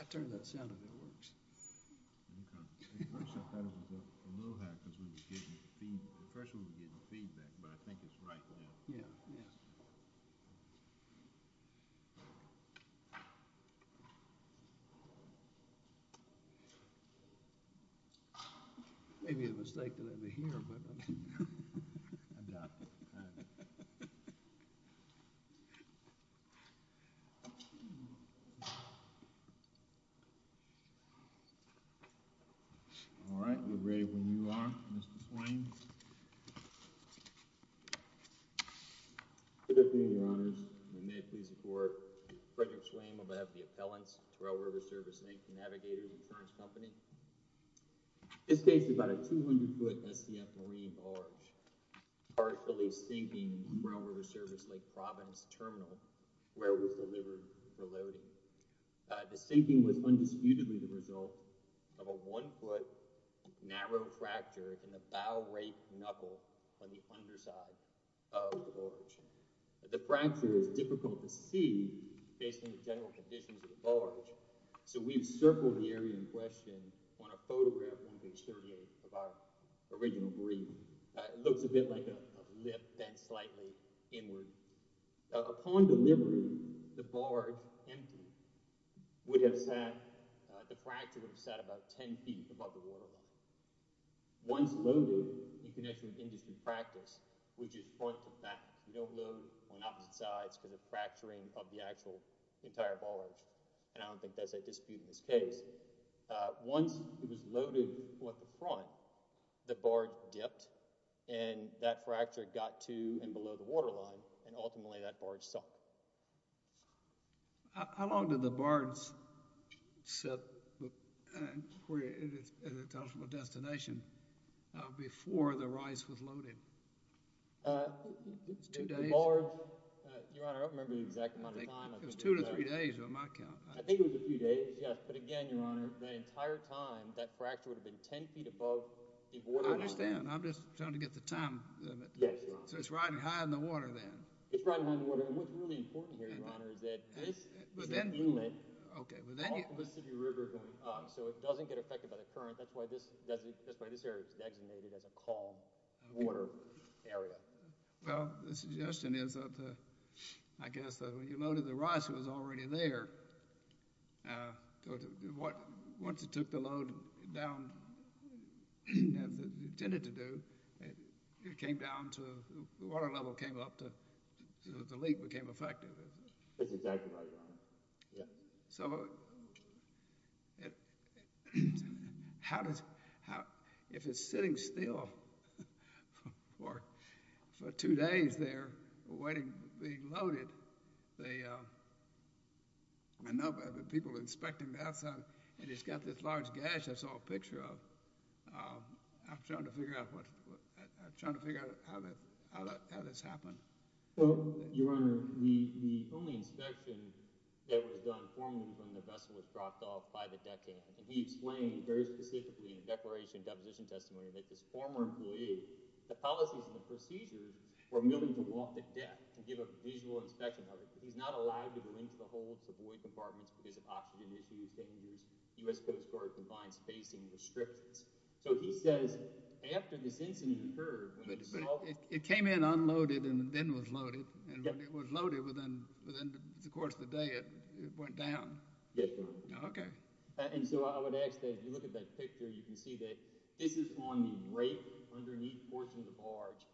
I turn that sound of it works. A little high because we were getting the first we were getting feedback, but I think it's right. Yeah, yeah. Maybe it was like that over here, but All right, you're ready when you are, Mr Swain. Good afternoon, Your Honors. We may please report Frederick Swain will have the appellants to our River Service Lake Navigator Insurance Company. This case is about a 200-foot SCF Marine barge partially sinking Railroad Service Lake Province Terminal where it was delivered for loading. The sinking was undisputedly the result of a one-foot narrow fracture in the bow rake knuckle on the underside of the barge. The fracture is difficult to see based on the general conditions of the barge. So we've circled the area in question on a photograph on page 38 of our original brief. It looks a bit like a lip bent slightly inward. Upon delivery, the barge empty would have sat, the fracture would have sat about 10 feet above the waterline. Once loaded, you can actually industry practice, which is front to back. You don't load on opposite sides because of fracturing of the actual entire barge, and I don't think that's a dispute in this case. Once it was loaded on the front, the barge dipped and that ultimately that barge sunk. How long did the barge sit where it is at its ultimate destination before the rice was loaded? Two days? The barge, Your Honor, I don't remember the exact amount of time. It was two to three days on my count. I think it was a few days, yes, but again, Your Honor, the entire time that fracture would have been 10 feet above the waterline. I understand. I'm just trying to get the time limit. Yes, Your Honor. So it's riding high in the water then? It's riding high in the water, and what's really important here, Your Honor, is that this is a movement off of a city river going up. So it doesn't get affected by the current. That's why this area is designated as a calm water area. Well, the suggestion is that I guess that when you loaded the rice, it was already there. Once it took the load down, as it intended to do, it came down to, the water level came up to, the leak became effective. That's exactly right, Your Honor. Yeah. So how does, if it's sitting still for two days there waiting, being loaded, the, I know people inspecting the outside, and it's got this large gash I saw a picture of. I'm trying to figure out what, I'm trying to figure out how this happened. Well, Your Honor, the only inspection that was done formally from the vessel was dropped off by the deckhand, and he explained very specifically in the declaration and deposition testimony that this former employee, the policies and the procedures were moving to walk the deck and give a visual inspection of it. He's not allowed to go into the hold, to void compartments because of oxygen issues, dangers, U.S. Coast Guard confined spacing restrictions. So he says, after this incident occurred, it came in unloaded and then was loaded, and when it was loaded, within the course of the day, it went down. Yes, Your Honor. Okay. And so I would ask that if you look at that picture, you can see that this is on the rake underneath the portion of the barge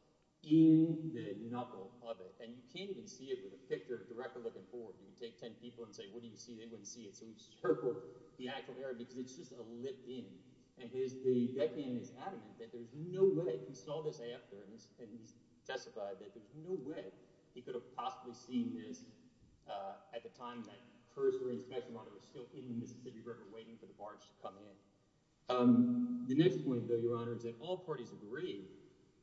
in the knuckle of it, and you can't even see it with a picture directly looking forward. You can take 10 people and say, what do you see? They wouldn't see it. So you circle the actual area because it's just a lit in, and his, the deckhand is adamant that there's no way he saw this after, and he testified that there's no way he could have possibly seen this at the time that first raid inspection monitor was still in the Mississippi River waiting for the barge to come in. The next point, though, Your Honor, is that all parties agree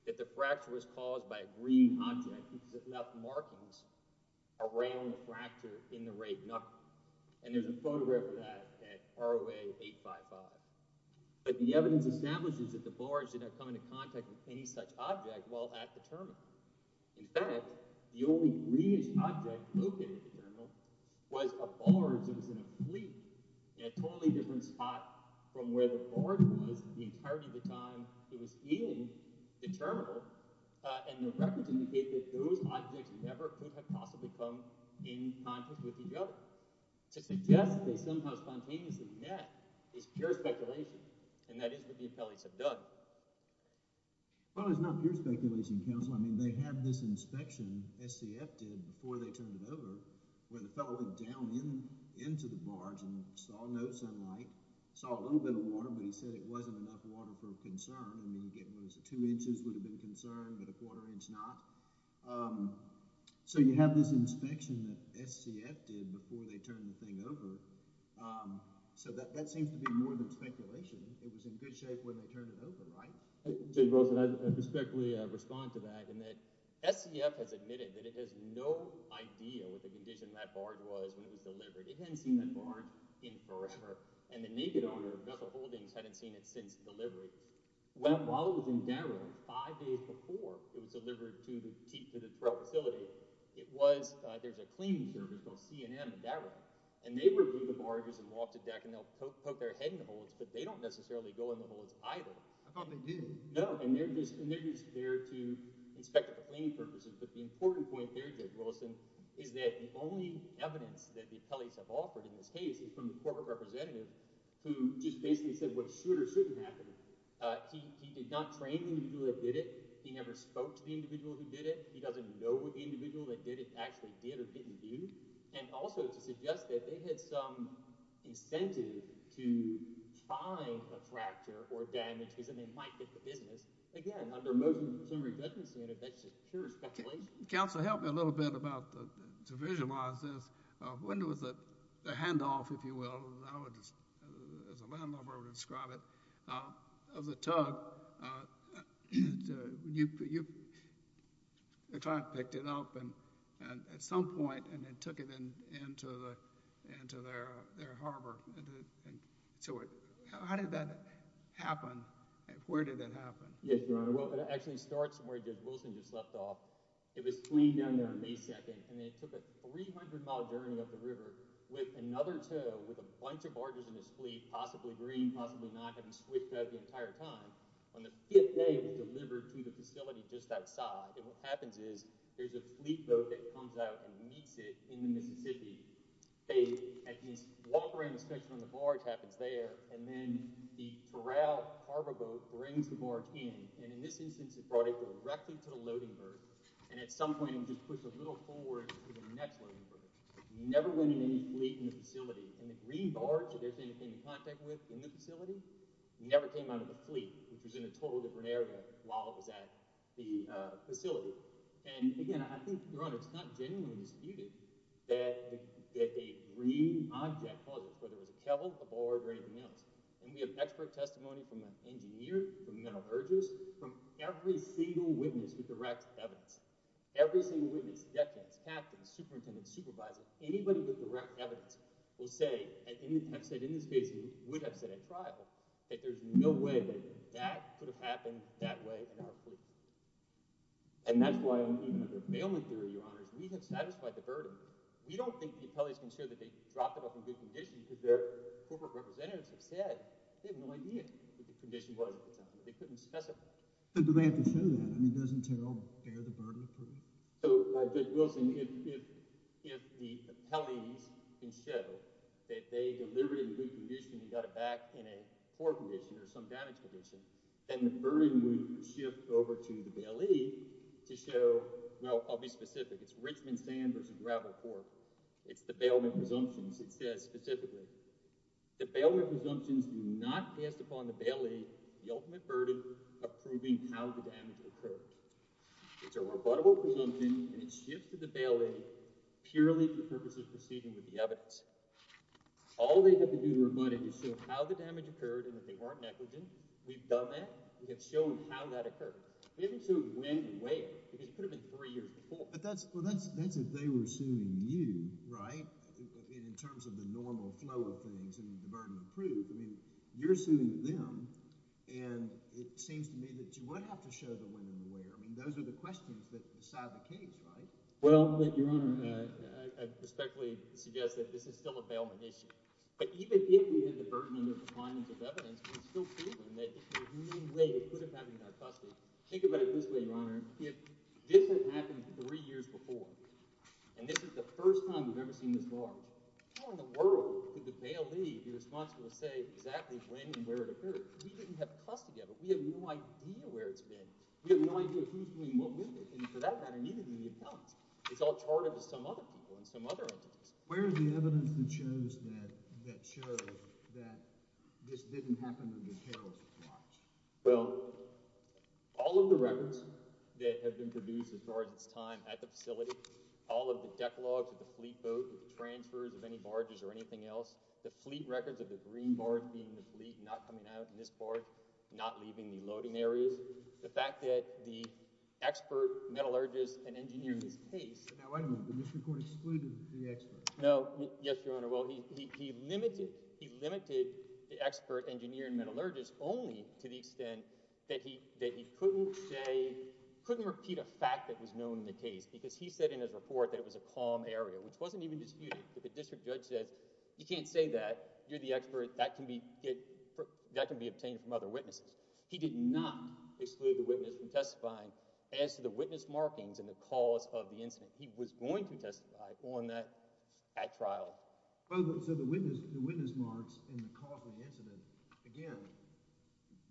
that the fracture was caused by a green object that left markings around the fracture in the rake knuckle. And there's a photograph of that at ROA 855, but the evidence establishes that the barge did not come into contact with any such object while at the terminal. In fact, the only greenish object located at the terminal was a barge that was in a fleet in a totally different spot from where the barge was the entirety of the time it was in the terminal, and the records indicate that those objects never could have possibly come in contact with each other. To suggest they somehow spontaneously met is pure speculation, and that is what the appellees have done. Well, it's not pure speculation, Counselor. I mean, they had this inspection SCF did before they turned it over where the fellow went down in into the barge and saw no sunlight, saw a little bit of water, but he said it wasn't enough water for a concern. I mean, getting close to two inches would have been a concern, but a quarter inch not. So you have this inspection that SCF did before they turned the thing over. So that seems to be more than speculation. It was in good shape when they turned it over, right? I respectfully respond to that, and that SCF has admitted that it has no idea what the condition of that barge was when it was delivered. It hadn't seen that barge in forever, and the naked owner of Bethel Holdings hadn't seen it since delivery. Well, while it was in Daryl, five days before it was delivered to the facility, it was, there's a cleaning service called C&M in Daryl, and they would move the barges and walk to deck and they'll poke their head in the holes, but they don't necessarily go in the holes either. I thought they did. No, and they're just there to inspect for cleaning purposes. But the important point there, Judge Wilson, is that the only evidence that the appellees have offered in this case is from the corporate representative who just basically said what should or shouldn't happen. He did not train the individual that did it. He never spoke to the individual who did it. He doesn't know what the individual that did it actually did or didn't do. And also to suggest that they had some incentive to find the fracture or damage, because then they might get the business. Again, under motion of consumer redundancy, that's just pure speculation. Counselor, help me a little bit about the, to visualize this. When was the handoff, if you will, I would just, as a tug, your client picked it up and at some point and then took it into their harbor. So how did that happen? Where did it happen? Yes, Your Honor. Well, it actually starts from where Judge Wilson just left off. It was cleaned down there on May 2nd, and they took a 300-mile journey up the river with another tow, with a bunch of barges in his fleet, possibly green, possibly not having switched out the entire time. On the fifth day, it was delivered to the facility just outside. And what happens is there's a fleet boat that comes out and meets it in the Mississippi. They walk around the section on the barge, happens there, and then the corral harbor boat brings the barge in. And in this instance, it brought it directly to the loading berth. And at some point, it just pushed a little forward to the next loading berth. Never went in any fleet in the facility. In the green barge, if there's anything to be in contact with in the facility, never came out of the fleet, which was in a totally different area while it was at the facility. And again, I think, Your Honor, it's not genuinely disputed that a green object was it, whether it was a kevel, a barge, or anything else. And we have expert testimony from an engineer, from mental urgers, from every single witness with direct evidence. Every single witness, detectives, captains, superintendents, supervisors, anybody with direct evidence will say, and I've said in this case, it would have set a trial, that there's no way that that could have happened that way in our fleet. And that's why, even under bailment theory, Your Honor, we have satisfied the burden. We don't think the appellees can show that they dropped it off in good condition because their corporate representatives have said they have no idea what the condition was at the time. They couldn't specify. But do they have to show that? I mean, it doesn't tell bear the burden? So, Dick Wilson, if the appellees can show that they delivered in good condition and got it back in a poor condition or some damage condition, then the burden would shift over to the bailee to show, well, I'll be specific. It's Richmond Sand versus gravel fork. It's the bailment presumptions. It says specifically, the bailment presumptions do not pass upon the bailee the ultimate burden of proving how the damage occurred. It's a rebuttable presumption and it shifts to the bailee purely for purposes of proceeding with the evidence. All they have to do to rebut it is show how the damage occurred and that they weren't negligent. We've done that. We have shown how that occurred. We haven't shown when and where because it could have been three years before. But that's, well, that's if they were suing you, right, in terms of the normal flow of things and the burden of proof. I mean, you're suing them and it seems to me that you would have to show the when and the where. I mean, those are the questions that decide the case, right? Well, Your Honor, I respectfully suggest that this is still a bailment issue. But even if we had the burden of the findings of evidence, we're still feeling that there's no way it could have happened in our custody. Think about it this way, Your Honor. If this had happened three years before and this is the first time we've ever seen this large, how in the world could the bailee be responsible to say exactly when and where it occurred? We didn't have custody of it. We have no idea where it's been. We have no idea who's doing what with it. And for that matter, neither do the appellants. It's all charted to some other people and some other entities. Where is the evidence that shows that this didn't happen under Carroll's watch? Well, all of the records that have been produced as far as its time at the facility, all of the deck logs of the fleet boat, the transfers of any barges or anything else, the fleet records of the green barge being the fleet not coming out in this barge, not leaving the loading areas, the fact that the expert metallurgist and engineer in this case. Now, wait a minute. The district court excluded the expert. No. Yes, Your Honor. Well, he limited, he limited the expert engineer and metallurgist only to the extent that he, that he couldn't say, couldn't repeat a fact that was known in the case because he said in his report that it was a calm area, which wasn't even disputed. But the district judge says, you can't say that. You're the expert. That can be, that can be excluded the witness from testifying. As to the witness markings and the cause of the incident, he was going to testify on that at trial. So the witness marks and the cause of the incident, again,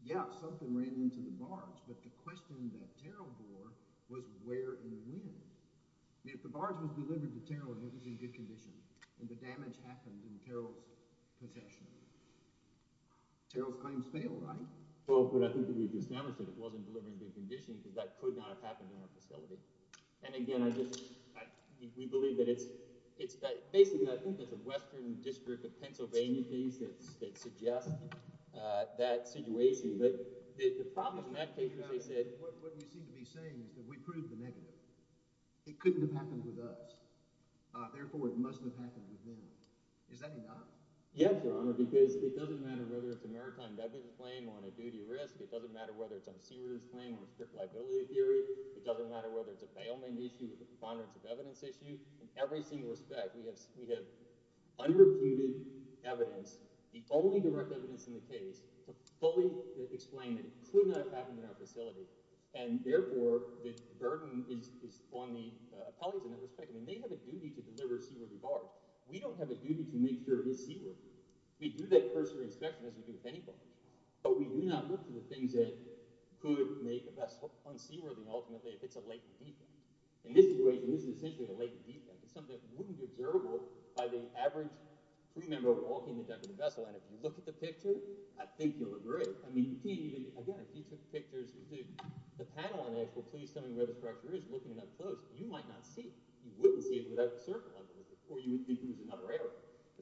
yeah, something ran into the barge, but the question that Carroll bore was where in the wind. If the barge was delivered to Carroll and it was in good condition and the damage happened in Carroll's possession, Carroll's claims fail, right? Well, but I think that we've established that it wasn't delivered in good condition because that could not have happened in our facility. And again, I just, we believe that it's, it's basically, I think it's a western district of Pennsylvania case that suggests that situation. But the problem in that case is they said, what we seem to be saying is that we proved the negative. It couldn't have happened with us. Therefore, it mustn't have happened with them. Is that enough? Yes, Your Honor, because it doesn't matter whether it's a maritime debit claim on a duty risk. It doesn't matter whether it's on sewers claim or strict liability theory. It doesn't matter whether it's a bailment issue with the preponderance of evidence issue. In every single respect, we have, we have unreported evidence, the only direct evidence in the case to fully explain that it could not have happened in our facility. And therefore the burden is, is on the appellees in that respect. I mean, they have a duty to deliver But we do not look for the things that could make a vessel unseaworthy, ultimately, if it's a latent defect. In this situation, this is essentially a latent defect. It's something that wouldn't be observable by the average crew member walking the deck of the vessel. And if you look at the picture, I think you'll agree. I mean, you can't even, again, if you took pictures, the panel on the actual clue is telling where the structure is, looking at it up close, you might not see it. You wouldn't see it without the circle underneath it, or you would think it was another area.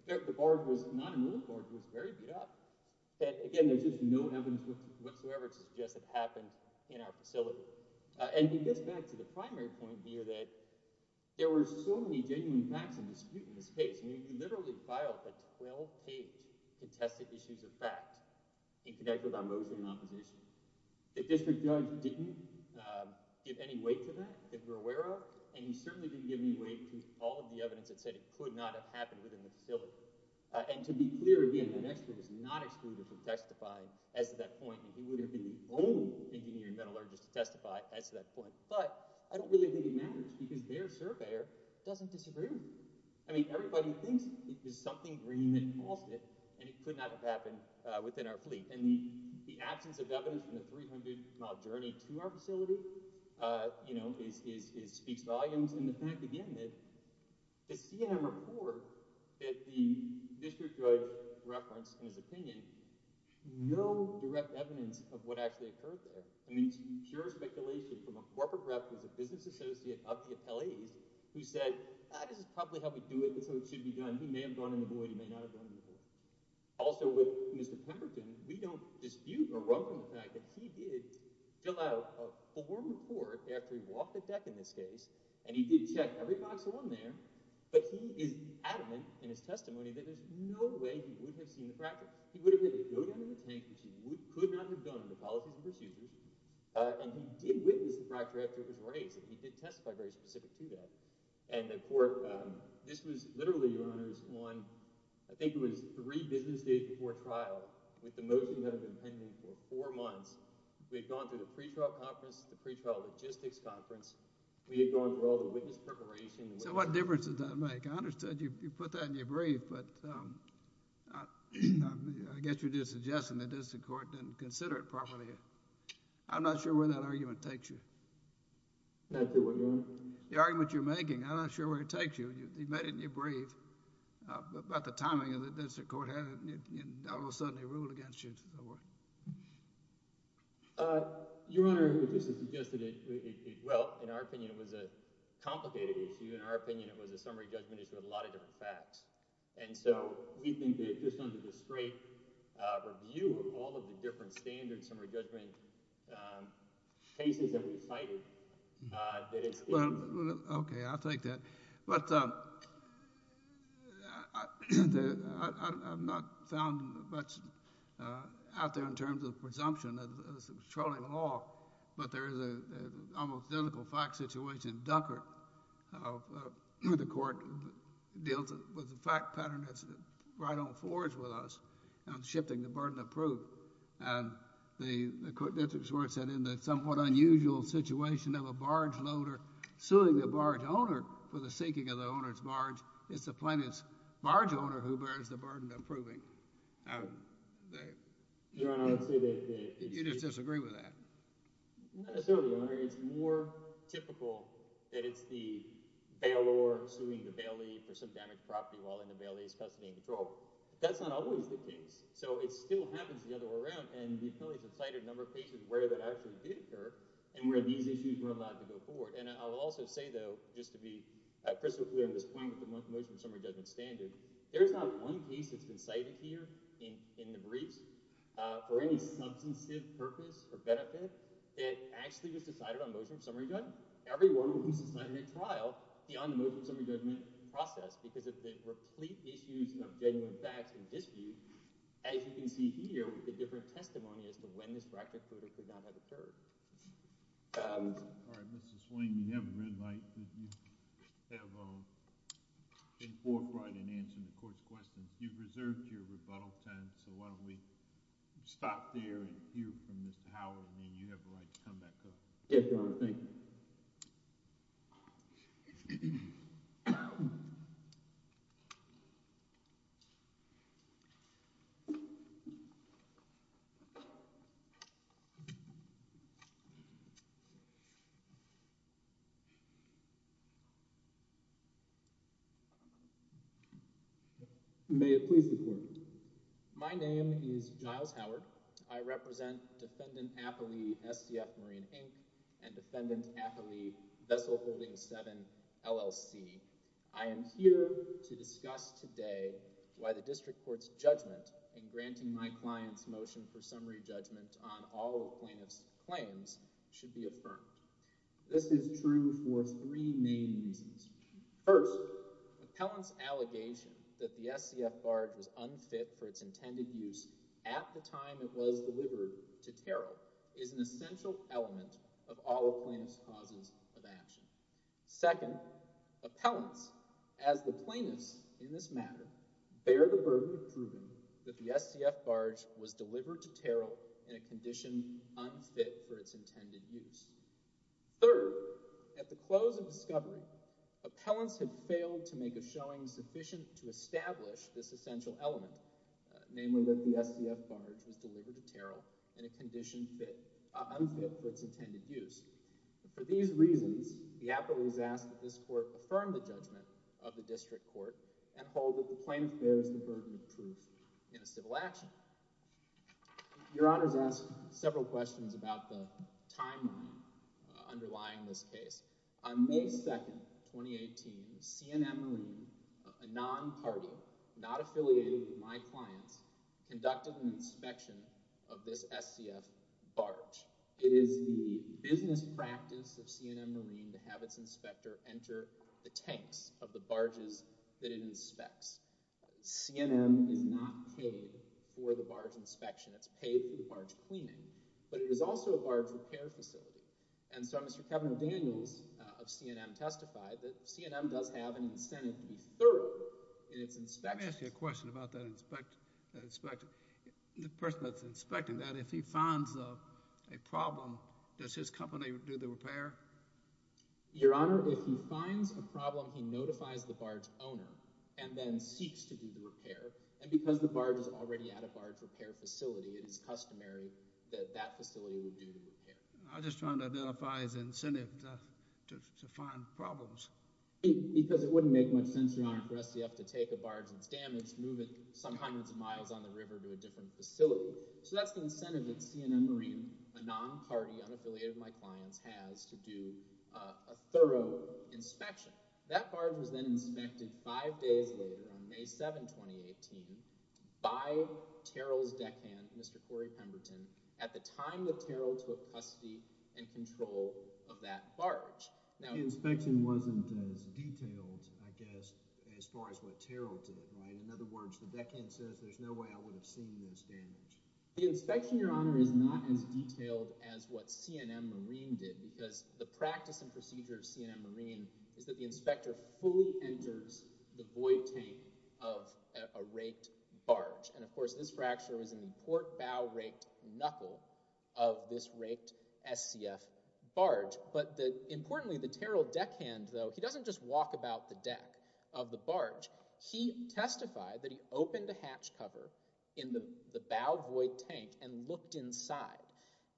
The barge was not And again, there's just no evidence whatsoever to suggest it happened in our facility. And it gets back to the primary point here that there were so many genuine facts of dispute in this case. I mean, you literally filed a 12-page to test the issues of fact, in connect with our motion in opposition. The district judge didn't give any weight to that, that we're aware of, and he certainly didn't give any weight to all of the evidence that said it could not have happened within the facility. And to be clear again, the next thing is not excluded from testifying as to that point, and he would have been the only engineering metallurgist to testify as to that point. But I don't really think it matters because their surveyor doesn't disagree. I mean, everybody thinks it was something green that caused it, and it could not have happened within our fleet. And the absence of evidence from the 300-mile journey to our facility, you know, it speaks volumes. And the fact, again, that the CNM report that the district judge referenced in his opinion, no direct evidence of what actually occurred there. I mean, it's pure speculation from a corporate rep, who's a business associate of the appellees, who said, this is probably how we do it, so it should be done. He may have gone in the void, he may not have gone in the void. Also with Mr. Pemberton, we don't dispute or run from the fact that he did fill out a form report after he walked the deck in this case, and he did check every box along there, but he is adamant in his testimony that there's no way he would have seen the fracture. He would have had to go down in the tank, which he could not have done under policies and procedures. And he did witness the fracture after it was raised, and he did testify very specific to that. And the court, this was literally, Your Honors, on, I think it was three business days before trial, with the motion that had been pending for four months. We had gone through the pretrial conference, the pretrial logistics conference. We had gone through all the witness preparation. So what difference does that make? I understood you put that in your brief, but I guess you're just suggesting that this court didn't consider it properly. I'm not sure where that argument takes you. The argument you're making, I'm not sure where it takes you. You made it in your brief, but the timing of the district court had it, and all of a sudden it ruled against you. Your Honor, this is just, well, in our opinion, it was a complicated issue. In our opinion, it was a summary judgment issue with a lot of different facts. And so we think that just under the straight review of all of the different standard summary judgment cases that we cited, that it's Well, okay, I'll take that. But I've not found much out there in terms of presumption of controlling law, but there is an almost identical fact situation in Dunkerque. The court deals with the fact pattern that's right on forge with us on shifting the burden of proof. And the court district court said in the somewhat unusual situation of a barge loader suing the barge owner for the sinking of the owner's barge, it's the plaintiff's barge owner who bears the burden of proving. Your Honor, I would say that You just disagree with that? Not necessarily, Your Honor. It's more typical that it's the bailor suing the bailee for some damaged property while in the bailee's custody and control. That's not always the case. So it still happens the other way around, and the appellees have cited a number of cases where that actually did occur and where these issues were allowed to go forward. And I'll also say, though, just to be crystal clear on this point with the motion of the summary judgment standard, there's not one case that's been for benefit. It actually was decided on motion of summary judgment. Everyone was assigned a trial beyond the motion of summary judgment process because of the replete issues of genuine facts and dispute, as you can see here with the different testimony as to when this racket could or could not have occurred. All right, Mrs. Swing, you have a red light. You have been forthright in answering the court's questions. You've reserved your rebuttal time, so why don't we stop there and hear from Mr. Howard, and then you have the right to come back up. Yes, Your Honor. Thank you. May it please the Court. My name is Giles Howard. I represent Defendant Appellee SCF Marine, Inc. and Defendant Appellee Vessel Holding 7, LLC. I am here to discuss today why the district court's judgment in granting my client's motion for summary judgment on all the plaintiff's claims should be affirmed. This is true for three main reasons. First, the appellant's allegation that the SCF barge was unfit for its intended use at the time it was delivered to Terrell is an Second, appellants, as the plaintiffs in this matter, bear the burden of proving that the SCF barge was delivered to Terrell in a condition unfit for its intended use. Third, at the close of discovery, appellants have failed to make a showing sufficient to establish this essential element, namely that the SCF barge was delivered to Terrell in a condition unfit for its intended use. For these reasons, the appellant is asked that this court affirm the judgment of the district court and hold that the plaintiff bears the burden of proof in a civil action. Your Honor has asked several questions about the timeline underlying this case. On May 2nd, 2018, CNN Marine, a non-party not affiliated with my clients, conducted an inspection of this SCF barge. It is the business practice of CNN Marine to have its inspector enter the tanks of the barges that it inspects. CNN is not paid for the barge inspection. It's paid for the barge cleaning, but it is also a barge repair facility. And so Mr. Kevin Daniels of CNN testified that CNN does have an incentive to be thorough in its inspection. Let me ask you a question about that inspector. The person that's inspecting that, if he finds a problem, does his company do the repair? Your Honor, if he finds a problem, he notifies the barge owner and then seeks to do the repair. And because the barge is already at a barge repair facility, it is customary that that facility would do the repair. I'm just trying to identify his incentive to find problems. Because it wouldn't make much sense, Your Honor, for SCF to take a barge that's damaged, move it some hundreds of miles on the river to a different facility. So that's the incentive that CNN Marine, a non-party unaffiliated with my clients, has to do a thorough inspection. That barge was then inspected five days later on May 7, 2018 by Terrell's deckhand, Mr. Corey Pemberton, at the time that Terrell took custody and control of that barge. The inspection wasn't as detailed, I guess, as far as what Terrell did, right? In other words, the deckhand says there's no way I would have seen this damage. The inspection, Your Honor, is not as detailed as what CNN Marine did because the practice and procedure of CNN Marine is that the inspector fully enters the void tank of a raked barge. And of course, this fracture was in the port bow raked knuckle of this raked SCF barge. But importantly, the Terrell about the deck of the barge, he testified that he opened a hatch cover in the bow void tank and looked inside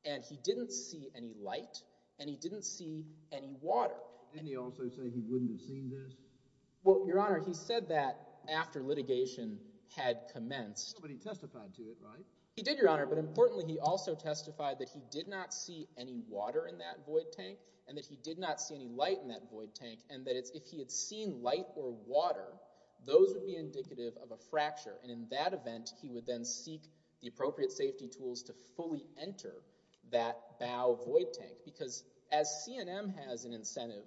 and he didn't see any light and he didn't see any water. Didn't he also say he wouldn't have seen this? Well, Your Honor, he said that after litigation had commenced. But he testified to it, right? He did, Your Honor, but importantly, he also testified that he did not see any water in that void tank and that he did not see any light in that void tank and that if he had seen light or water, those would be indicative of a fracture. And in that event, he would then seek the appropriate safety tools to fully enter that bow void tank because as CNN has an incentive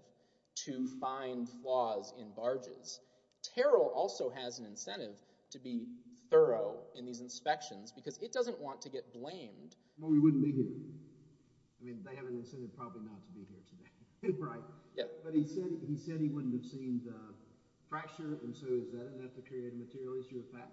to find flaws in barges, Terrell also has an incentive to be thorough in these inspections because it doesn't want to get blamed. Well, we wouldn't be here. I mean, they have an incentive probably not to be here today, right? Yeah, but he said he said he wouldn't have seen the fracture and so is that enough to create a material issue with that?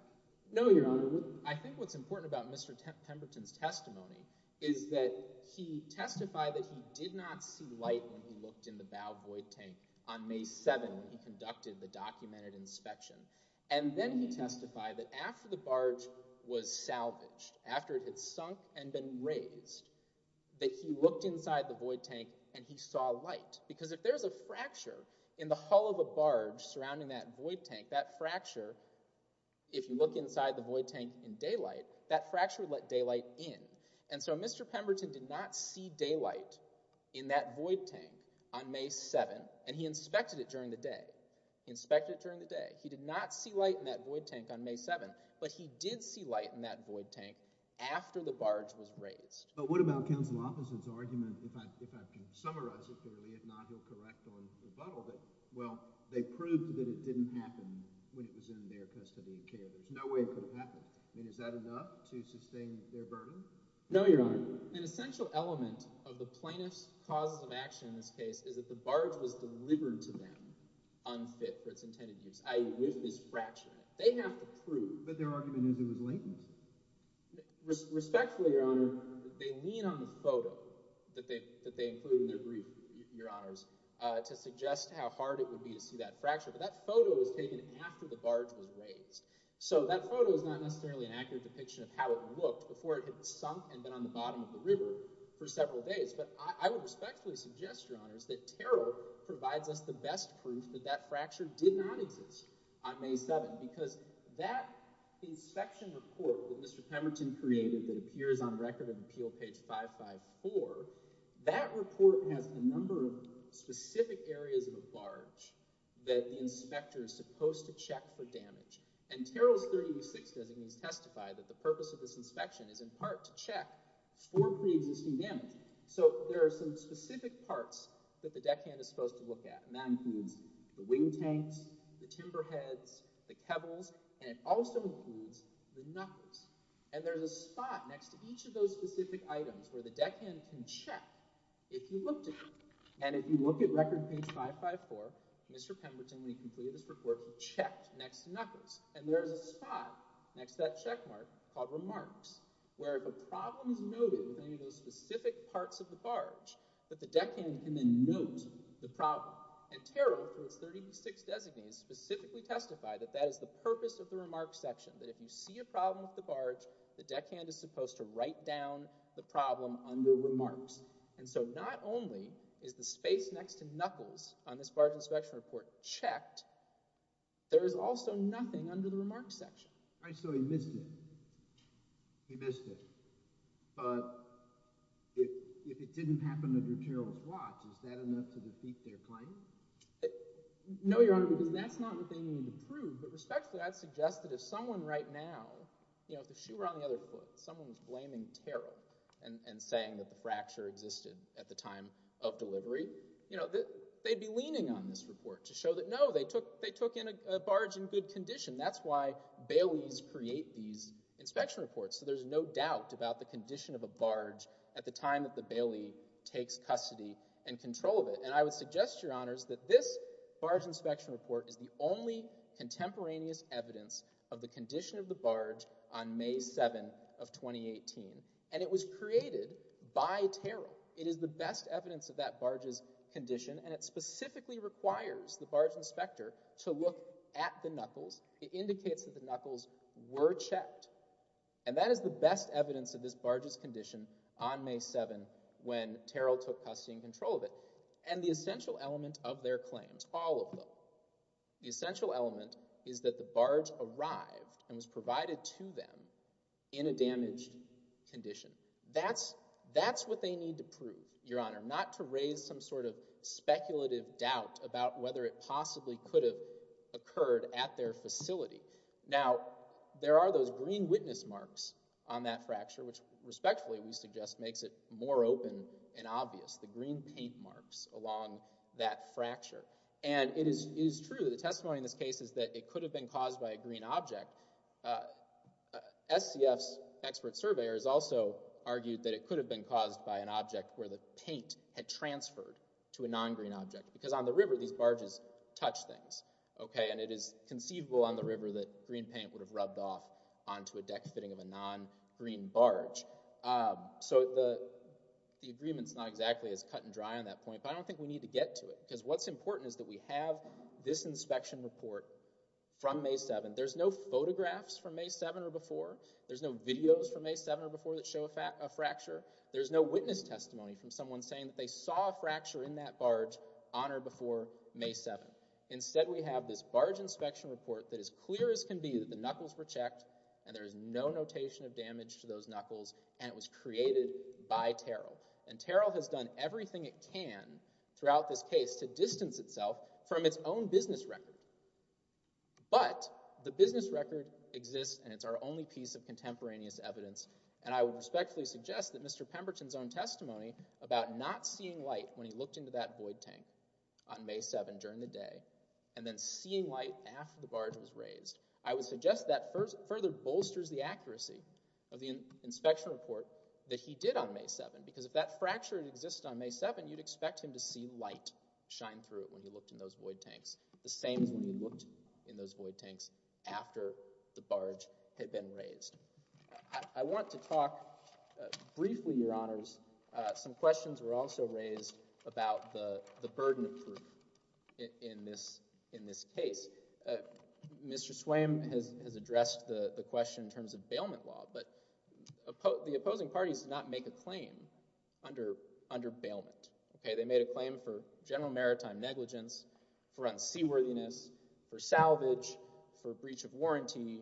No, Your Honor, I think what's important about Mr. Pemberton's testimony is that he testified that he did not see light when he looked in the bow void tank on May 7 when he conducted the documented inspection. And then he testified that after the barge was salvaged, after it had sunk and been raised, that he looked inside the void tank and he saw light because if there's a fracture in the hull of a barge surrounding that void tank, that fracture, if you look inside the void tank in daylight, that fracture would let daylight in. And so Mr. Pemberton did not see daylight in that void tank on May 7 and he inspected it during the day. He inspected it during the day. He did not see light in that void tank on May 7, but he did see light in that void tank after the barge was raised. But what about Counsel Officer's argument, if I can summarize it clearly, if not, he'll correct on rebuttal, that, well, they proved that it didn't happen when it was in their custody of care. There's no way it could have happened. I mean, is that enough to sustain their burden? No, Your Honor. An essential element of the plaintiff's causes of action in this case is that the barge was delivered to them unfit for its intended use, i.e., if it's fractured. They have to prove. But their argument is it was latent. Respectfully, Your Honor, they lean on the photo that they included in their brief, Your Honors, to suggest how hard it would be to see that fracture. But that photo was taken after the barge was raised. So that photo is not necessarily an accurate depiction of how it looked before it had sunk and been on the bottom of the river for several days. But I would respectfully suggest, Your Honors, that Terrell provides us the best proof that that fracture did not exist on May 7 because that inspection report that Mr. Pemberton created that appears on record in Appeal page 554, that report has a number of specific areas of the barge that the inspector is supposed to check for damage. And Terrell's 30E6 designates testify that the purpose of this inspection is in part to check for pre-existing damage. So there are some specific parts that the deckhand is supposed to look at, and that includes the wing tanks, the timber heads, the kebbles, and it also includes the knuckles. And there's a spot next to each of those specific items where the deckhand can check if you looked at them. And if you look at record page 554, Mr. Pemberton, when he completed this report, he checked next to knuckles. And there's a spot next to that check mark called remarks, where if a problem is noted in any of those specific parts of the barge, that the deckhand can then note the problem. And Terrell, for its 30E6 designate, specifically testified that that is the purpose of the remarks section, that if you see a problem with the barge, the deckhand is supposed to write down the problem under remarks. And so not only is the space next to knuckles on this barge inspection report checked, there is also nothing under the remarks section. All right, so he missed it. He missed it. But if it didn't happen under Terrell's watch, is that enough to defeat their claim? No, Your Honor, because that's not what they need to prove. But respectfully, I'd suggest that if someone right now, you know, if the shoe were on the other foot, someone was blaming Terrell and saying that the fracture existed at the time of delivery, you know, that they'd be leaning on this report to show that, no, they took in a barge in good condition. That's why baileys create these inspection reports. So there's no doubt about the condition of a barge at the time that the bailey takes custody and control of it. And I would suggest, Your Honors, that this barge inspection report is the only contemporaneous evidence of the condition of the barge on May 7 of 2018. And it was created by Terrell. It is the best evidence of that barge's condition, and it specifically requires the barge inspector to look at the knuckles. It indicates that the knuckles were checked. And that is the best evidence of this barge's condition on May 7, when Terrell took custody and control of it. And the essential element of their claims, all of them, the essential element is that the barge arrived and was provided to them in a damaged condition. That's what they need to prove, Your Honor, not to raise some sort of speculative doubt about whether it possibly could have occurred at their facility. Now, there are those green witness marks on that fracture, which respectfully we find obvious, the green paint marks along that fracture. And it is true that the testimony in this case is that it could have been caused by a green object. SCF's expert surveyors also argued that it could have been caused by an object where the paint had transferred to a non-green object. Because on the river, these barges touch things, okay? And it is conceivable on the river that green paint would have rubbed off onto a non-green object. Now, I'm not exactly as cut and dry on that point, but I don't think we need to get to it. Because what's important is that we have this inspection report from May 7. There's no photographs from May 7 or before. There's no videos from May 7 or before that show a fracture. There's no witness testimony from someone saying that they saw a fracture in that barge on or before May 7. Instead, we have this barge inspection report that is clear as can be that the knuckles were checked and there is no notation of damage to those knuckles. The barge has done everything it can throughout this case to distance itself from its own business record. But the business record exists and it's our only piece of contemporaneous evidence, and I would respectfully suggest that Mr. Pemberton's own testimony about not seeing light when he looked into that void tank on May 7 during the day and then seeing light after the barge was raised, I would suggest that further bolsters the accuracy of the inspection report that he did on May 7. Because if that fracture exists on May 7, you'd expect him to see light shine through it when he looked in those void tanks, the same as when he looked in those void tanks after the barge had been raised. I want to talk briefly, Your Honors, some questions were also raised about the burden of proof in this case. Mr. Swaim has addressed the question in terms of bailment law, but the opposing parties did not make a claim under bailment. They made a claim for general maritime negligence, for unseaworthiness, for salvage, for breach of warranty,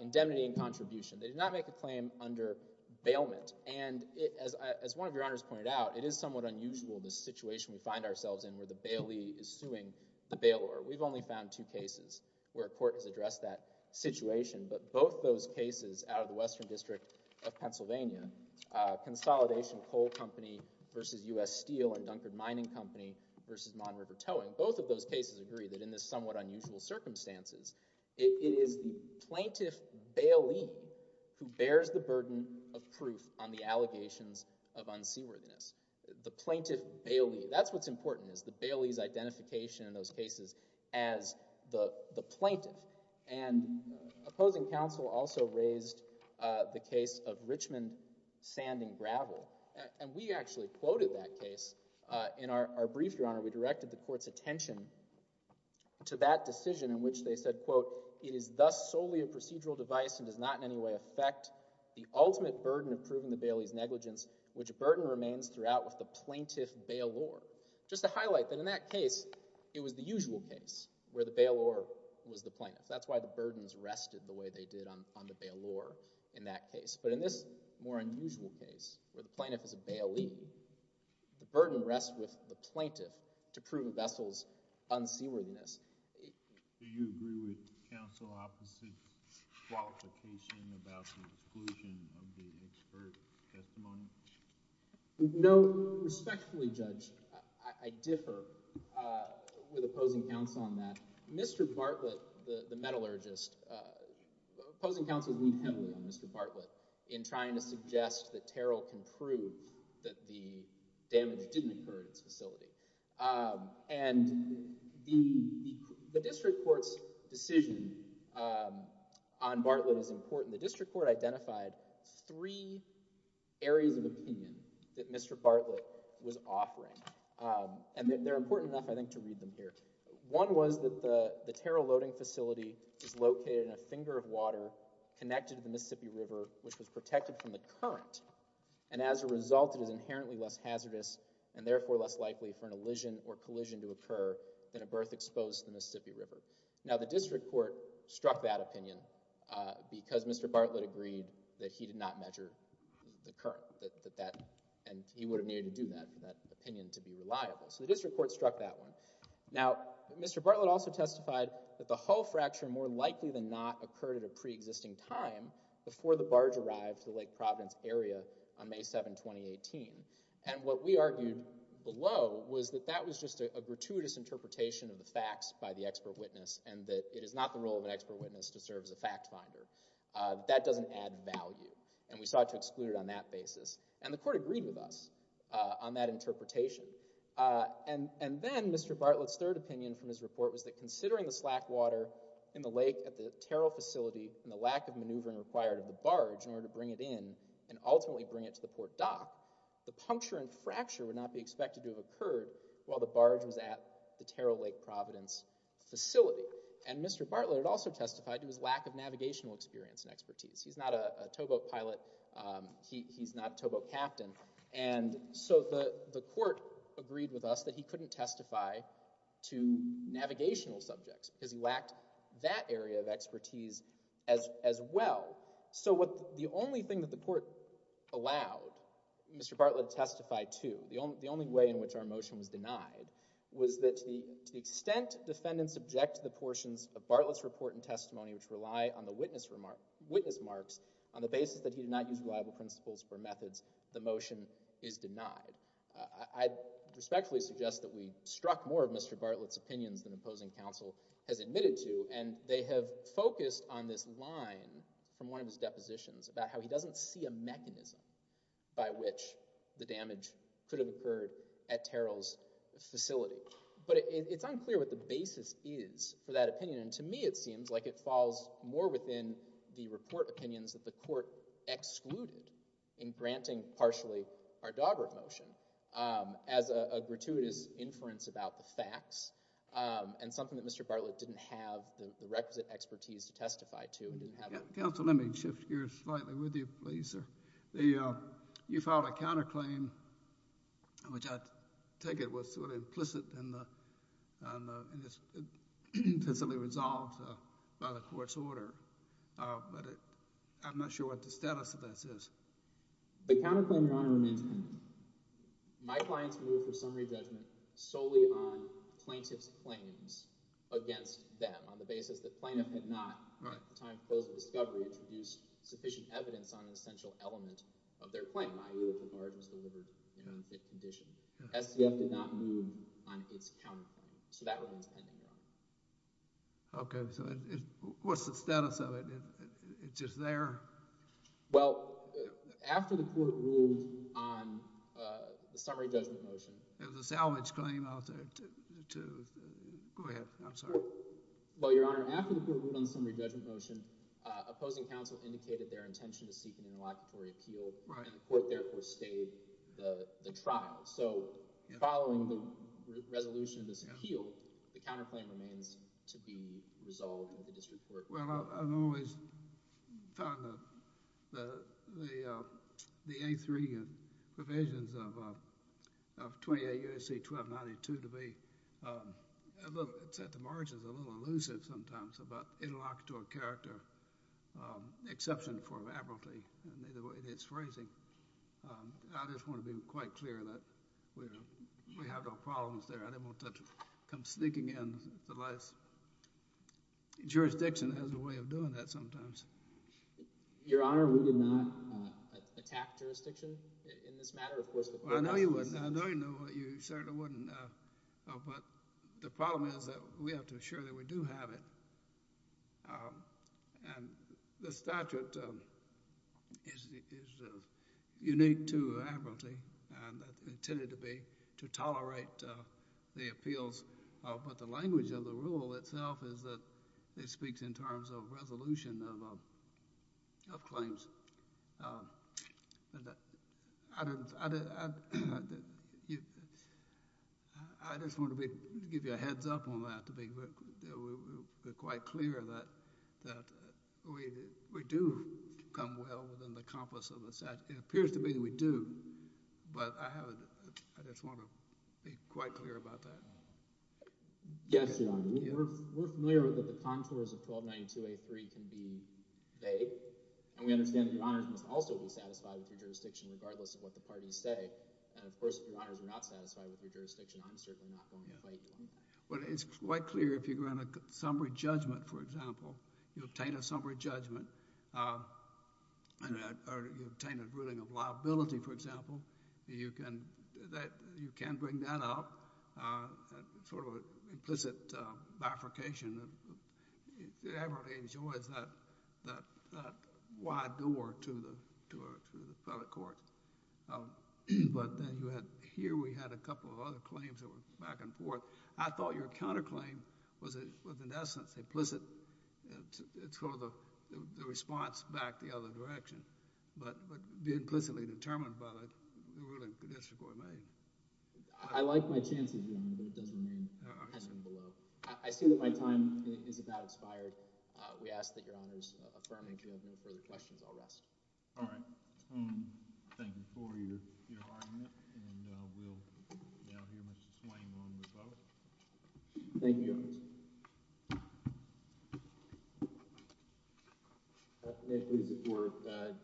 indemnity and contribution. They did not make a claim under bailment, and as one of Your Honors pointed out, it is somewhat unusual the situation we find ourselves in where the bailee is suing the bailor. We've only found two cases where court has addressed that situation, but both those cases out of the Western District of Pennsylvania, Consolidation Coal Company v. U.S. Steel and Dunkard Mining Company v. Mon River Towing, both of those cases agree that in this somewhat unusual circumstances, it is the plaintiff bailee who bears the burden of proof on the allegations of unseaworthiness. The plaintiff bailee, that's what's important is the bailee's plaintiff, and opposing counsel also raised the case of Richmond Sanding Gravel, and we actually quoted that case in our brief, Your Honor. We directed the court's attention to that decision in which they said, quote, it is thus solely a procedural device and does not in any way affect the ultimate burden of proving the bailee's negligence, which burden remains throughout with the plaintiff bailor. Just to highlight that in that case, it was the usual case where the plaintiff was the plaintiff. That's why the burdens rested the way they did on the bailor in that case. But in this more unusual case, where the plaintiff is a bailee, the burden rests with the plaintiff to prove a vessel's unseaworthiness. Do you agree with counsel opposite's qualification about the exclusion of the expert testimony? No. Respectfully, Judge, I differ with opposing counsel on Mr. Bartlett, the metallurgist. Opposing counsel leaned heavily on Mr. Bartlett in trying to suggest that Terrell can prove that the damage didn't occur at its facility. And the district court's decision on Bartlett is important. The district court identified three areas of opinion that Mr. Bartlett was offering, and they're important enough, I think, to read them here. One was that the Terrell loading facility is located in a finger of water connected to the Mississippi River, which was protected from the current. And as a result, it is inherently less hazardous and therefore less likely for an elision or collision to occur than a berth exposed to the Mississippi River. Now, the district court struck that opinion because Mr. Bartlett agreed that he did not measure the current, and he would have needed to do that opinion to be Now, Mr. Bartlett also testified that the hull fracture more likely than not occurred at a pre-existing time before the barge arrived to Lake Providence area on May 7, 2018. And what we argued below was that that was just a gratuitous interpretation of the facts by the expert witness and that it is not the role of an expert witness to serve as a fact finder. That doesn't add value, and we sought to exclude it on that basis. And the court agreed with us on that opinion from his report was that considering the slack water in the lake at the Terrell facility and the lack of maneuvering required of the barge in order to bring it in and ultimately bring it to the port dock, the puncture and fracture would not be expected to have occurred while the barge was at the Terrell Lake Providence facility. And Mr. Bartlett also testified to his lack of navigational experience and expertise. He's not a towboat pilot. He's not a towboat captain. And so the court agreed with us that he couldn't testify to navigational subjects because he lacked that area of expertise as well. So what the only thing that the court allowed Mr. Bartlett to testify to, the only way in which our motion was denied, was that to the extent defendants object to the portions of Bartlett's report and testimony which rely on the witness remarks on the basis that he did not use reliable principles or methods, the motion is denied. I respectfully suggest that we struck more of Mr. Bartlett's opinions than opposing counsel has admitted to and they have focused on this line from one of his depositions about how he doesn't see a mechanism by which the damage could have occurred at Terrell's facility. But it's unclear what the basis is for that opinion. And to me it seems like it falls more within the report opinions that the court excluded in granting partially our Daubert motion as a gratuitous inference about the facts and something that Mr. Bartlett didn't have the requisite expertise to testify to. Counsel, let me shift gears slightly with you, please, sir. You filed a counterclaim which I take it was sort of implicit and it's instantly resolved by the court's order, but I'm not sure what the status of this is. The counterclaim, Your Honor, remains pending. My clients moved for summary judgment solely on plaintiff's claims against them on the basis that plaintiff had not, at the time of his discovery, introduced sufficient evidence on an essential element of their claim, i.e. that the barge was delivered in a fit condition. SCF did not move on its counterclaim. So that one is pending, Your Honor. Okay, so what's the status of it? It's just there? Well, after the court ruled on the summary judgment motion. It was a salvage claim, I'll say. Go ahead. I'm sorry. Well, Your Honor, after the court ruled on the summary judgment motion, opposing counsel indicated their intention to seek an interlocutory appeal and the court therefore stayed the trial. So following the resolution of this appeal, the counterclaim remains to be resolved at the district court. Well, I've always found that the A3 provisions of 28 U.S.C. 1292 to be a little, it's at the margins, a little elusive sometimes about interlocutory character, exception for laboralty and the way it's phrasing. I just want to be quite clear that we have no problems there. I didn't want to come sneaking in the last. Jurisdiction has a way of doing that sometimes. Your Honor, we did not attack jurisdiction in this matter, of course. I know you wouldn't. I know you certainly wouldn't. But the problem is that we have to assure that we do have it. And the statute is unique to Aberlty and intended to be, to tolerate the appeals. But the language of the rule itself is that it speaks in terms of resolution of claims. I just want to give you a heads up on that to be quite clear that we do come well within the compass of the statute. It appears to be that we do, but I have, I just want to be quite clear about that. Yes, Your Honor. We're familiar with that the contours of 1292A3 can be vague, and we understand that Your Honors must also be satisfied with your jurisdiction regardless of what the parties say. And of course, if Your Honors are not satisfied with your jurisdiction, I'm certainly not going to fight you on that. Well, it's quite clear if you're going to summary judgment, for example, you obtain a summary judgment, or you obtain a ruling of liability, for example, you can bring that up, sort of implicit bifurcation. Aberlty enjoys that wide door to the federal court. But then you had, here we had a couple of other claims that were back and forth. I thought your counterclaim was in essence implicit. It's sort of the response back the other direction, but be implicitly determined by the ruling of district order A. I like my chances, Your Honor, but it does remain as in below. I see that my time is about expired. We ask that Your Honors affirm it. If you have no further questions, I'll rest. All right. Thank you for your argument, and we'll now hear Mr. Swain on the vote. Thank you, Your Honors.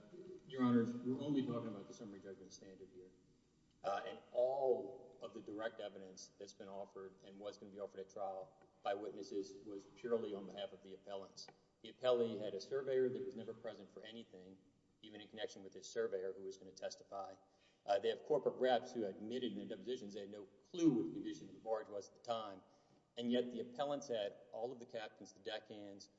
Your Honors, we're only talking about the summary judgment standard here, and all of the direct evidence that's been offered and was going to be offered at trial by witnesses was purely on behalf of the appellants. The appellee had a surveyor that was never present for anything, even in connection with his surveyor who was going to testify. They have corporate reps who admitted in their depositions they had no clue what the condition of the barge was at the time, and yet the appellants had all of the captains, the deck hands,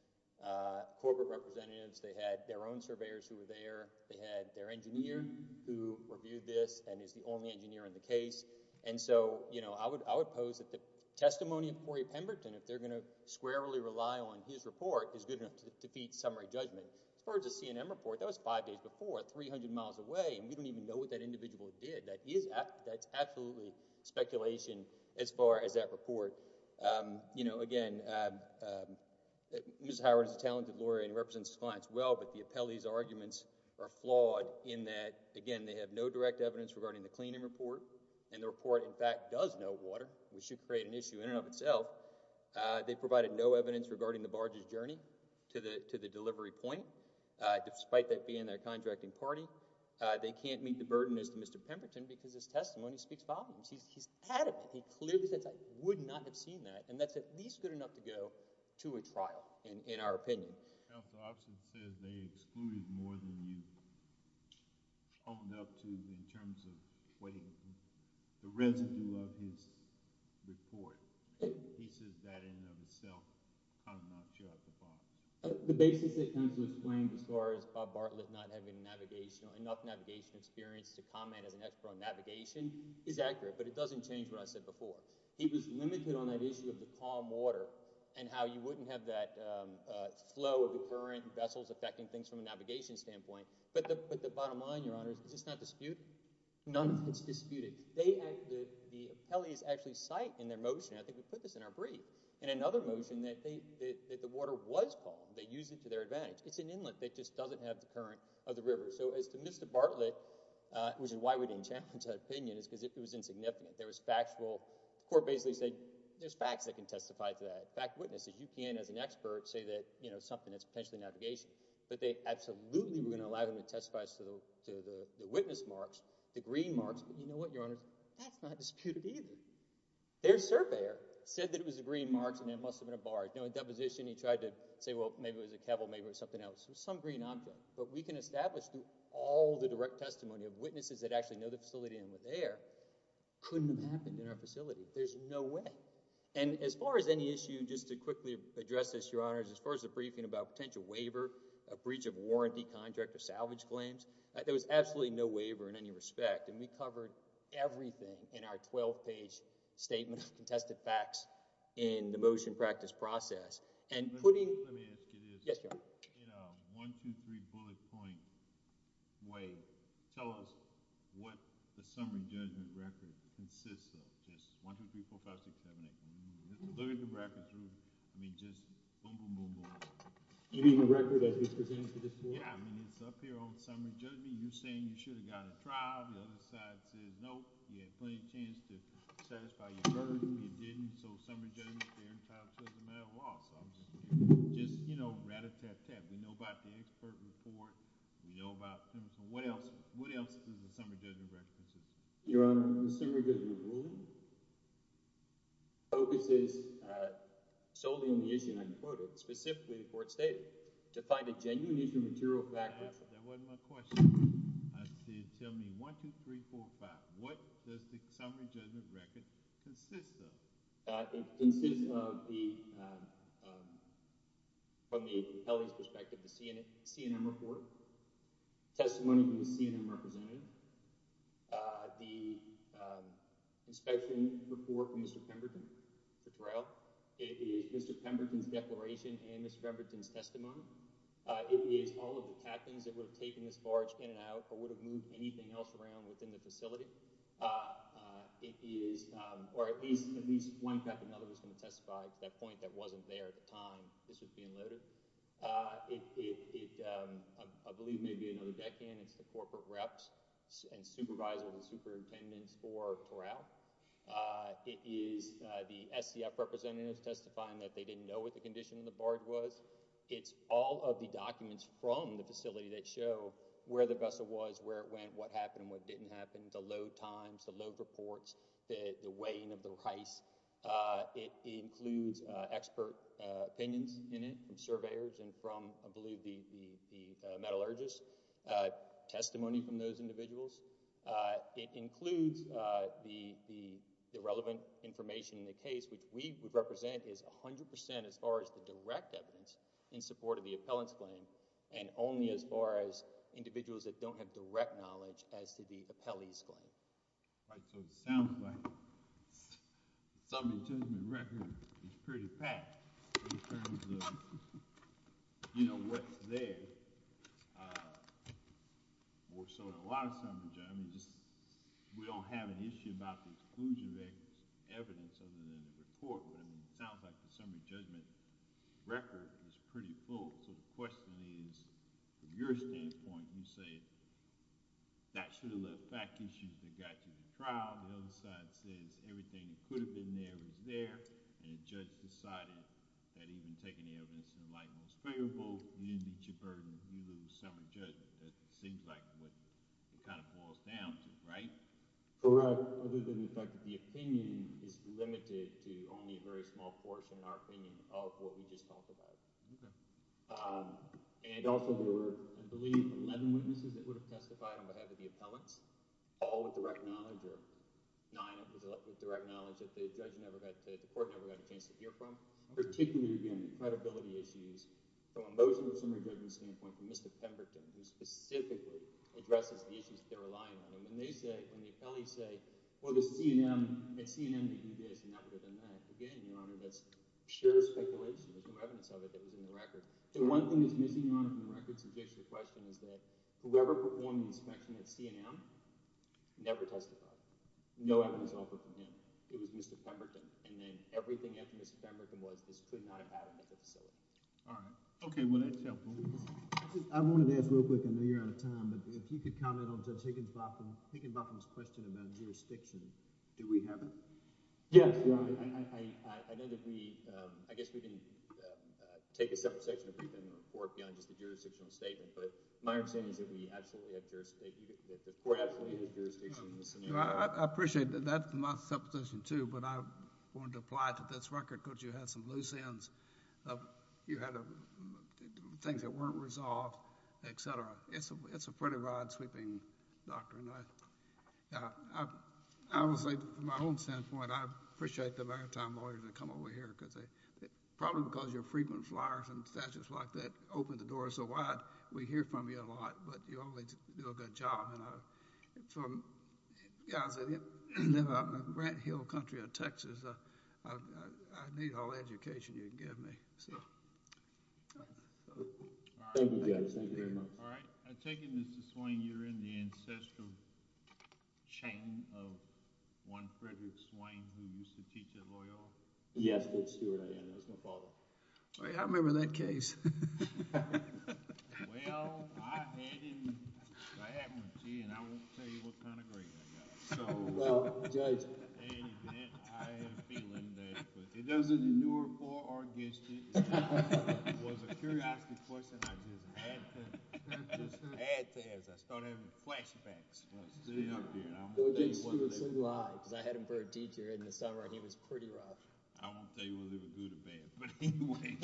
corporate representatives. They had their own surveyors who were there. They had their engineer who reviewed this and is the only engineer in the case, and so, you know, I would pose that the testimony of Corey Pemberton, if they're going to squarely rely on his report, is good enough to defeat summary judgment. As far as the CNN report, that was five days before, 300 miles away, and we don't even know what that individual did. That is absolutely speculation as far as that report. You know, again, Ms. Howard is a talented lawyer and represents clients well, but the appellee's arguments are flawed in that, again, they have no direct evidence regarding the cleaning report, and the report, in fact, does know water. We should create an issue in and of itself. They provided no evidence regarding the barge's journey to the delivery point, despite that being their contracting party. They can't meet the burden as to Mr. Pemberton because his attitude, he clearly says, I would not have seen that, and that's at least good enough to go to a trial, in our opinion. Counsel, I would say they excluded more than you owned up to in terms of weighting the residue of his report. He says that in and of itself, I'm not sure I could buy it. The basis that counsel explained as far as Bob Bartlett not having enough navigation experience to comment as an expert on navigation is accurate, but it doesn't change what I said before. He was limited on that issue of the calm water and how you wouldn't have that flow of the current vessels affecting things from a navigation standpoint, but the bottom line, Your Honor, is it's not disputed. None of it's disputed. The appellees actually cite in their motion, I think we put this in our brief, in another motion that the water was calm. They used it to their advantage. It's an inlet that just doesn't have the current of the river. So as to Mr. Bartlett, which is why we didn't challenge that opinion is because it was insignificant. There was factual, the court basically said there's facts that can testify to that. Fact witnesses, you can as an expert say that, you know, something that's potentially navigation, but they absolutely were going to allow him to testify to the witness marks, the green marks, but you know what, Your Honor, that's not disputed either. Their surveyor said that it was a green marks and it must have been a barge. No, in deposition, he tried to say, well, maybe it was a kevel, maybe it was something else. There's some green on them, but we can establish through all the direct testimony of witnesses that actually know the facility and were there, couldn't have happened in our facility. There's no way. And as far as any issue, just to quickly address this, Your Honor, as far as the briefing about potential waiver, a breach of warranty contract or salvage claims, there was absolutely no waiver in any respect. And we covered everything in our 12 page statement of contested facts in Let me ask you this. Yes, Your Honor. In a 1-2-3 bullet point way, tell us what the summary judgment record consists of. Just 1-2-3-4-5-6-7-8. Look at the record through. I mean, just boom, boom, boom, boom. You mean the record as it's presented to this court? Yeah, I mean, it's up here on summary judgment. You're saying you should have got a trial. The other side says, nope, you had plenty of chance to satisfy your burden, but you didn't. So summary judgment there in charge of the loss. Just, you know, rat-a-tat-tat. We know about the expert report. We know about them. So what else? What else does the summary judgment record consist of? Your Honor, the summary judgment ruling focuses solely on the issue, and I quote it, specifically the court stated, to find a genuine issue of material factual. That wasn't my question. Tell me 1-2-3-4-5. What does the summary judgment record consist of? It consists of the, from the appellee's perspective, the CNN report, testimony from the CNN representative, the inspection report from Mr. Pemberton, Mr. Terrell, it is Mr. Pemberton's declaration and Mr. Pemberton's testimony. It is all of the captains that would have taken this barge in and out or would have moved anything else around within the facility. It is, or at least one captain or another was going to testify at that point that wasn't there at the time this was being loaded. It, I believe, may be another deckhand. It's the corporate reps and supervisors and superintendents for Terrell. It is the SCF representatives testifying that they didn't know what the condition of the barge was. It's all of the documents from the facility that show where the vessel was, where it went, what happened, what didn't happen, the load times, the load reports, the weighing of the rice. It includes expert opinions in it from surveyors and from, I believe, the metallurgists, testimony from those individuals. It includes the relevant information in the case, which we would represent is 100% as far as the direct evidence in support of the appellant's claim and only as far as individuals that don't have direct knowledge as to the appellee's claim. All right, so it sounds like the summary judgment record is pretty packed in terms of, you know, what's there. More so than a lot of summaries, I mean, just we don't have an issue about the exclusion of evidence other than the report, but I mean, it sounds like the summary judgment record is pretty full. So the question is, from your standpoint, you say that should have left back issues that got you in the trial. The other side says everything that could have been there was there and the judge decided that even taking the evidence in the light was favorable. You didn't meet your burden. You lose summary judgment. That seems like what it kind of boils down to, right? Correct, other than the fact that the opinion is limited to only a very small portion of our opinion of what we just talked about. And also, there were, I believe, 11 witnesses that would have testified on behalf of the appellants, all with direct knowledge or nine with direct knowledge that the judge never got to, the court never got a chance to hear from. Particularly, again, credibility issues from a motion of summary judgment standpoint from Mr. Pemberton, who specifically addresses the issues that they're relying on. And when they say, when the appellees say, well, the C&M, the C&M that you did is inevitable than that. Again, Your Honor, that's pure speculation. There's no evidence of it that was in the record. The one thing that's missing on the record to fix your question is that whoever performed the inspection at C&M never testified. No evidence offered from him. It was Mr. Pemberton. And then everything after Mr. Pemberton was, this could not have happened at the facility. All right. Okay. Well, that's helpful. I wanted to ask real quick. I know you're out of time, but if you could comment on Judge Higgins-Boppin, Higgins-Boppin's question about jurisdiction, do we have it? Yes, Your Honor. I know that we, I guess we didn't take a separate section of the report beyond just the jurisdictional statement, but my understanding is that we absolutely have jurisdiction, that the court absolutely has jurisdiction in this scenario. I appreciate that. That's my supposition, too, but I wanted to apply it to this record because you had some loose ends. You had things that weren't resolved, etc. It's a pretty rod-sweeping doctrine. I would say, from my own standpoint, I appreciate the maritime lawyers that come over here because they, probably because you're frequent flyers and statutes like that open the door so wide, we hear from you a lot, but you always do a good job. And I, from, you know, I live out in the Grant Hill country of Texas. I need all the education you can give me, so... All right. I take it, Mr. Swain, you're in the ancestral chain of one Frederick Swain who used to teach at Loyola? Yes, Judge Stewart, I am. It was my father. I remember that case. Well, I had him. I had him. Gee, and I won't tell you what kind of green I got. Well, Judge... Any event, I have a feeling that, but it doesn't inure for or against you. It was a curiosity question I just had to, just had to answer. I started having flashbacks. Well, sitting up here, and I'm... Judge Stewart's single eye, because I had him for a teacher in the summer, and he was pretty rough. I won't tell you whether it was good or bad. But, anyway,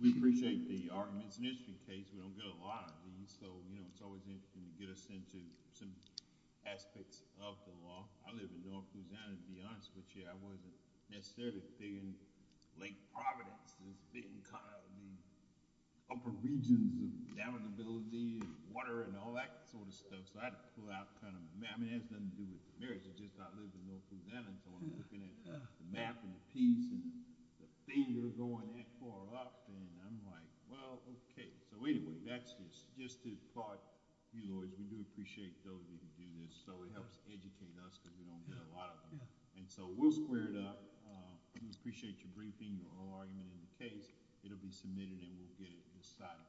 we appreciate the arguments in this case. We don't get a lot of these, so, you know, it's always interesting to get us into some aspects of the law. I live in north Louisiana, to be honest with you. I wasn't necessarily big in Lake Providence. I was big in kind of the upper regions of damageability and water and all that sort of stuff, so I had to pull out kind of... I mean, it has nothing to do with the merits. It's just I live in north Louisiana, so I'm looking at the map and the piece and the thing you're going that far up, and I'm like, well, okay. So, anyway, that's just to applaud you lawyers. We do appreciate those of you who do this, so it helps educate us because we don't get a lot of them. So, we'll square it up. We appreciate your briefing, your oral argument in the case. It'll be submitted, and we'll get it decided.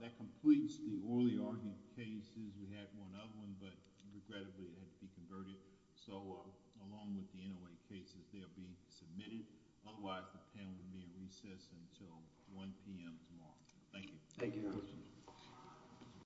That completes the orally argued cases. We had one other one, but regrettably it had to be converted. So, along with the NOA cases, they'll be submitted. Otherwise, the panel will be in recess until 1 p.m. tomorrow. Thank you. Thank you.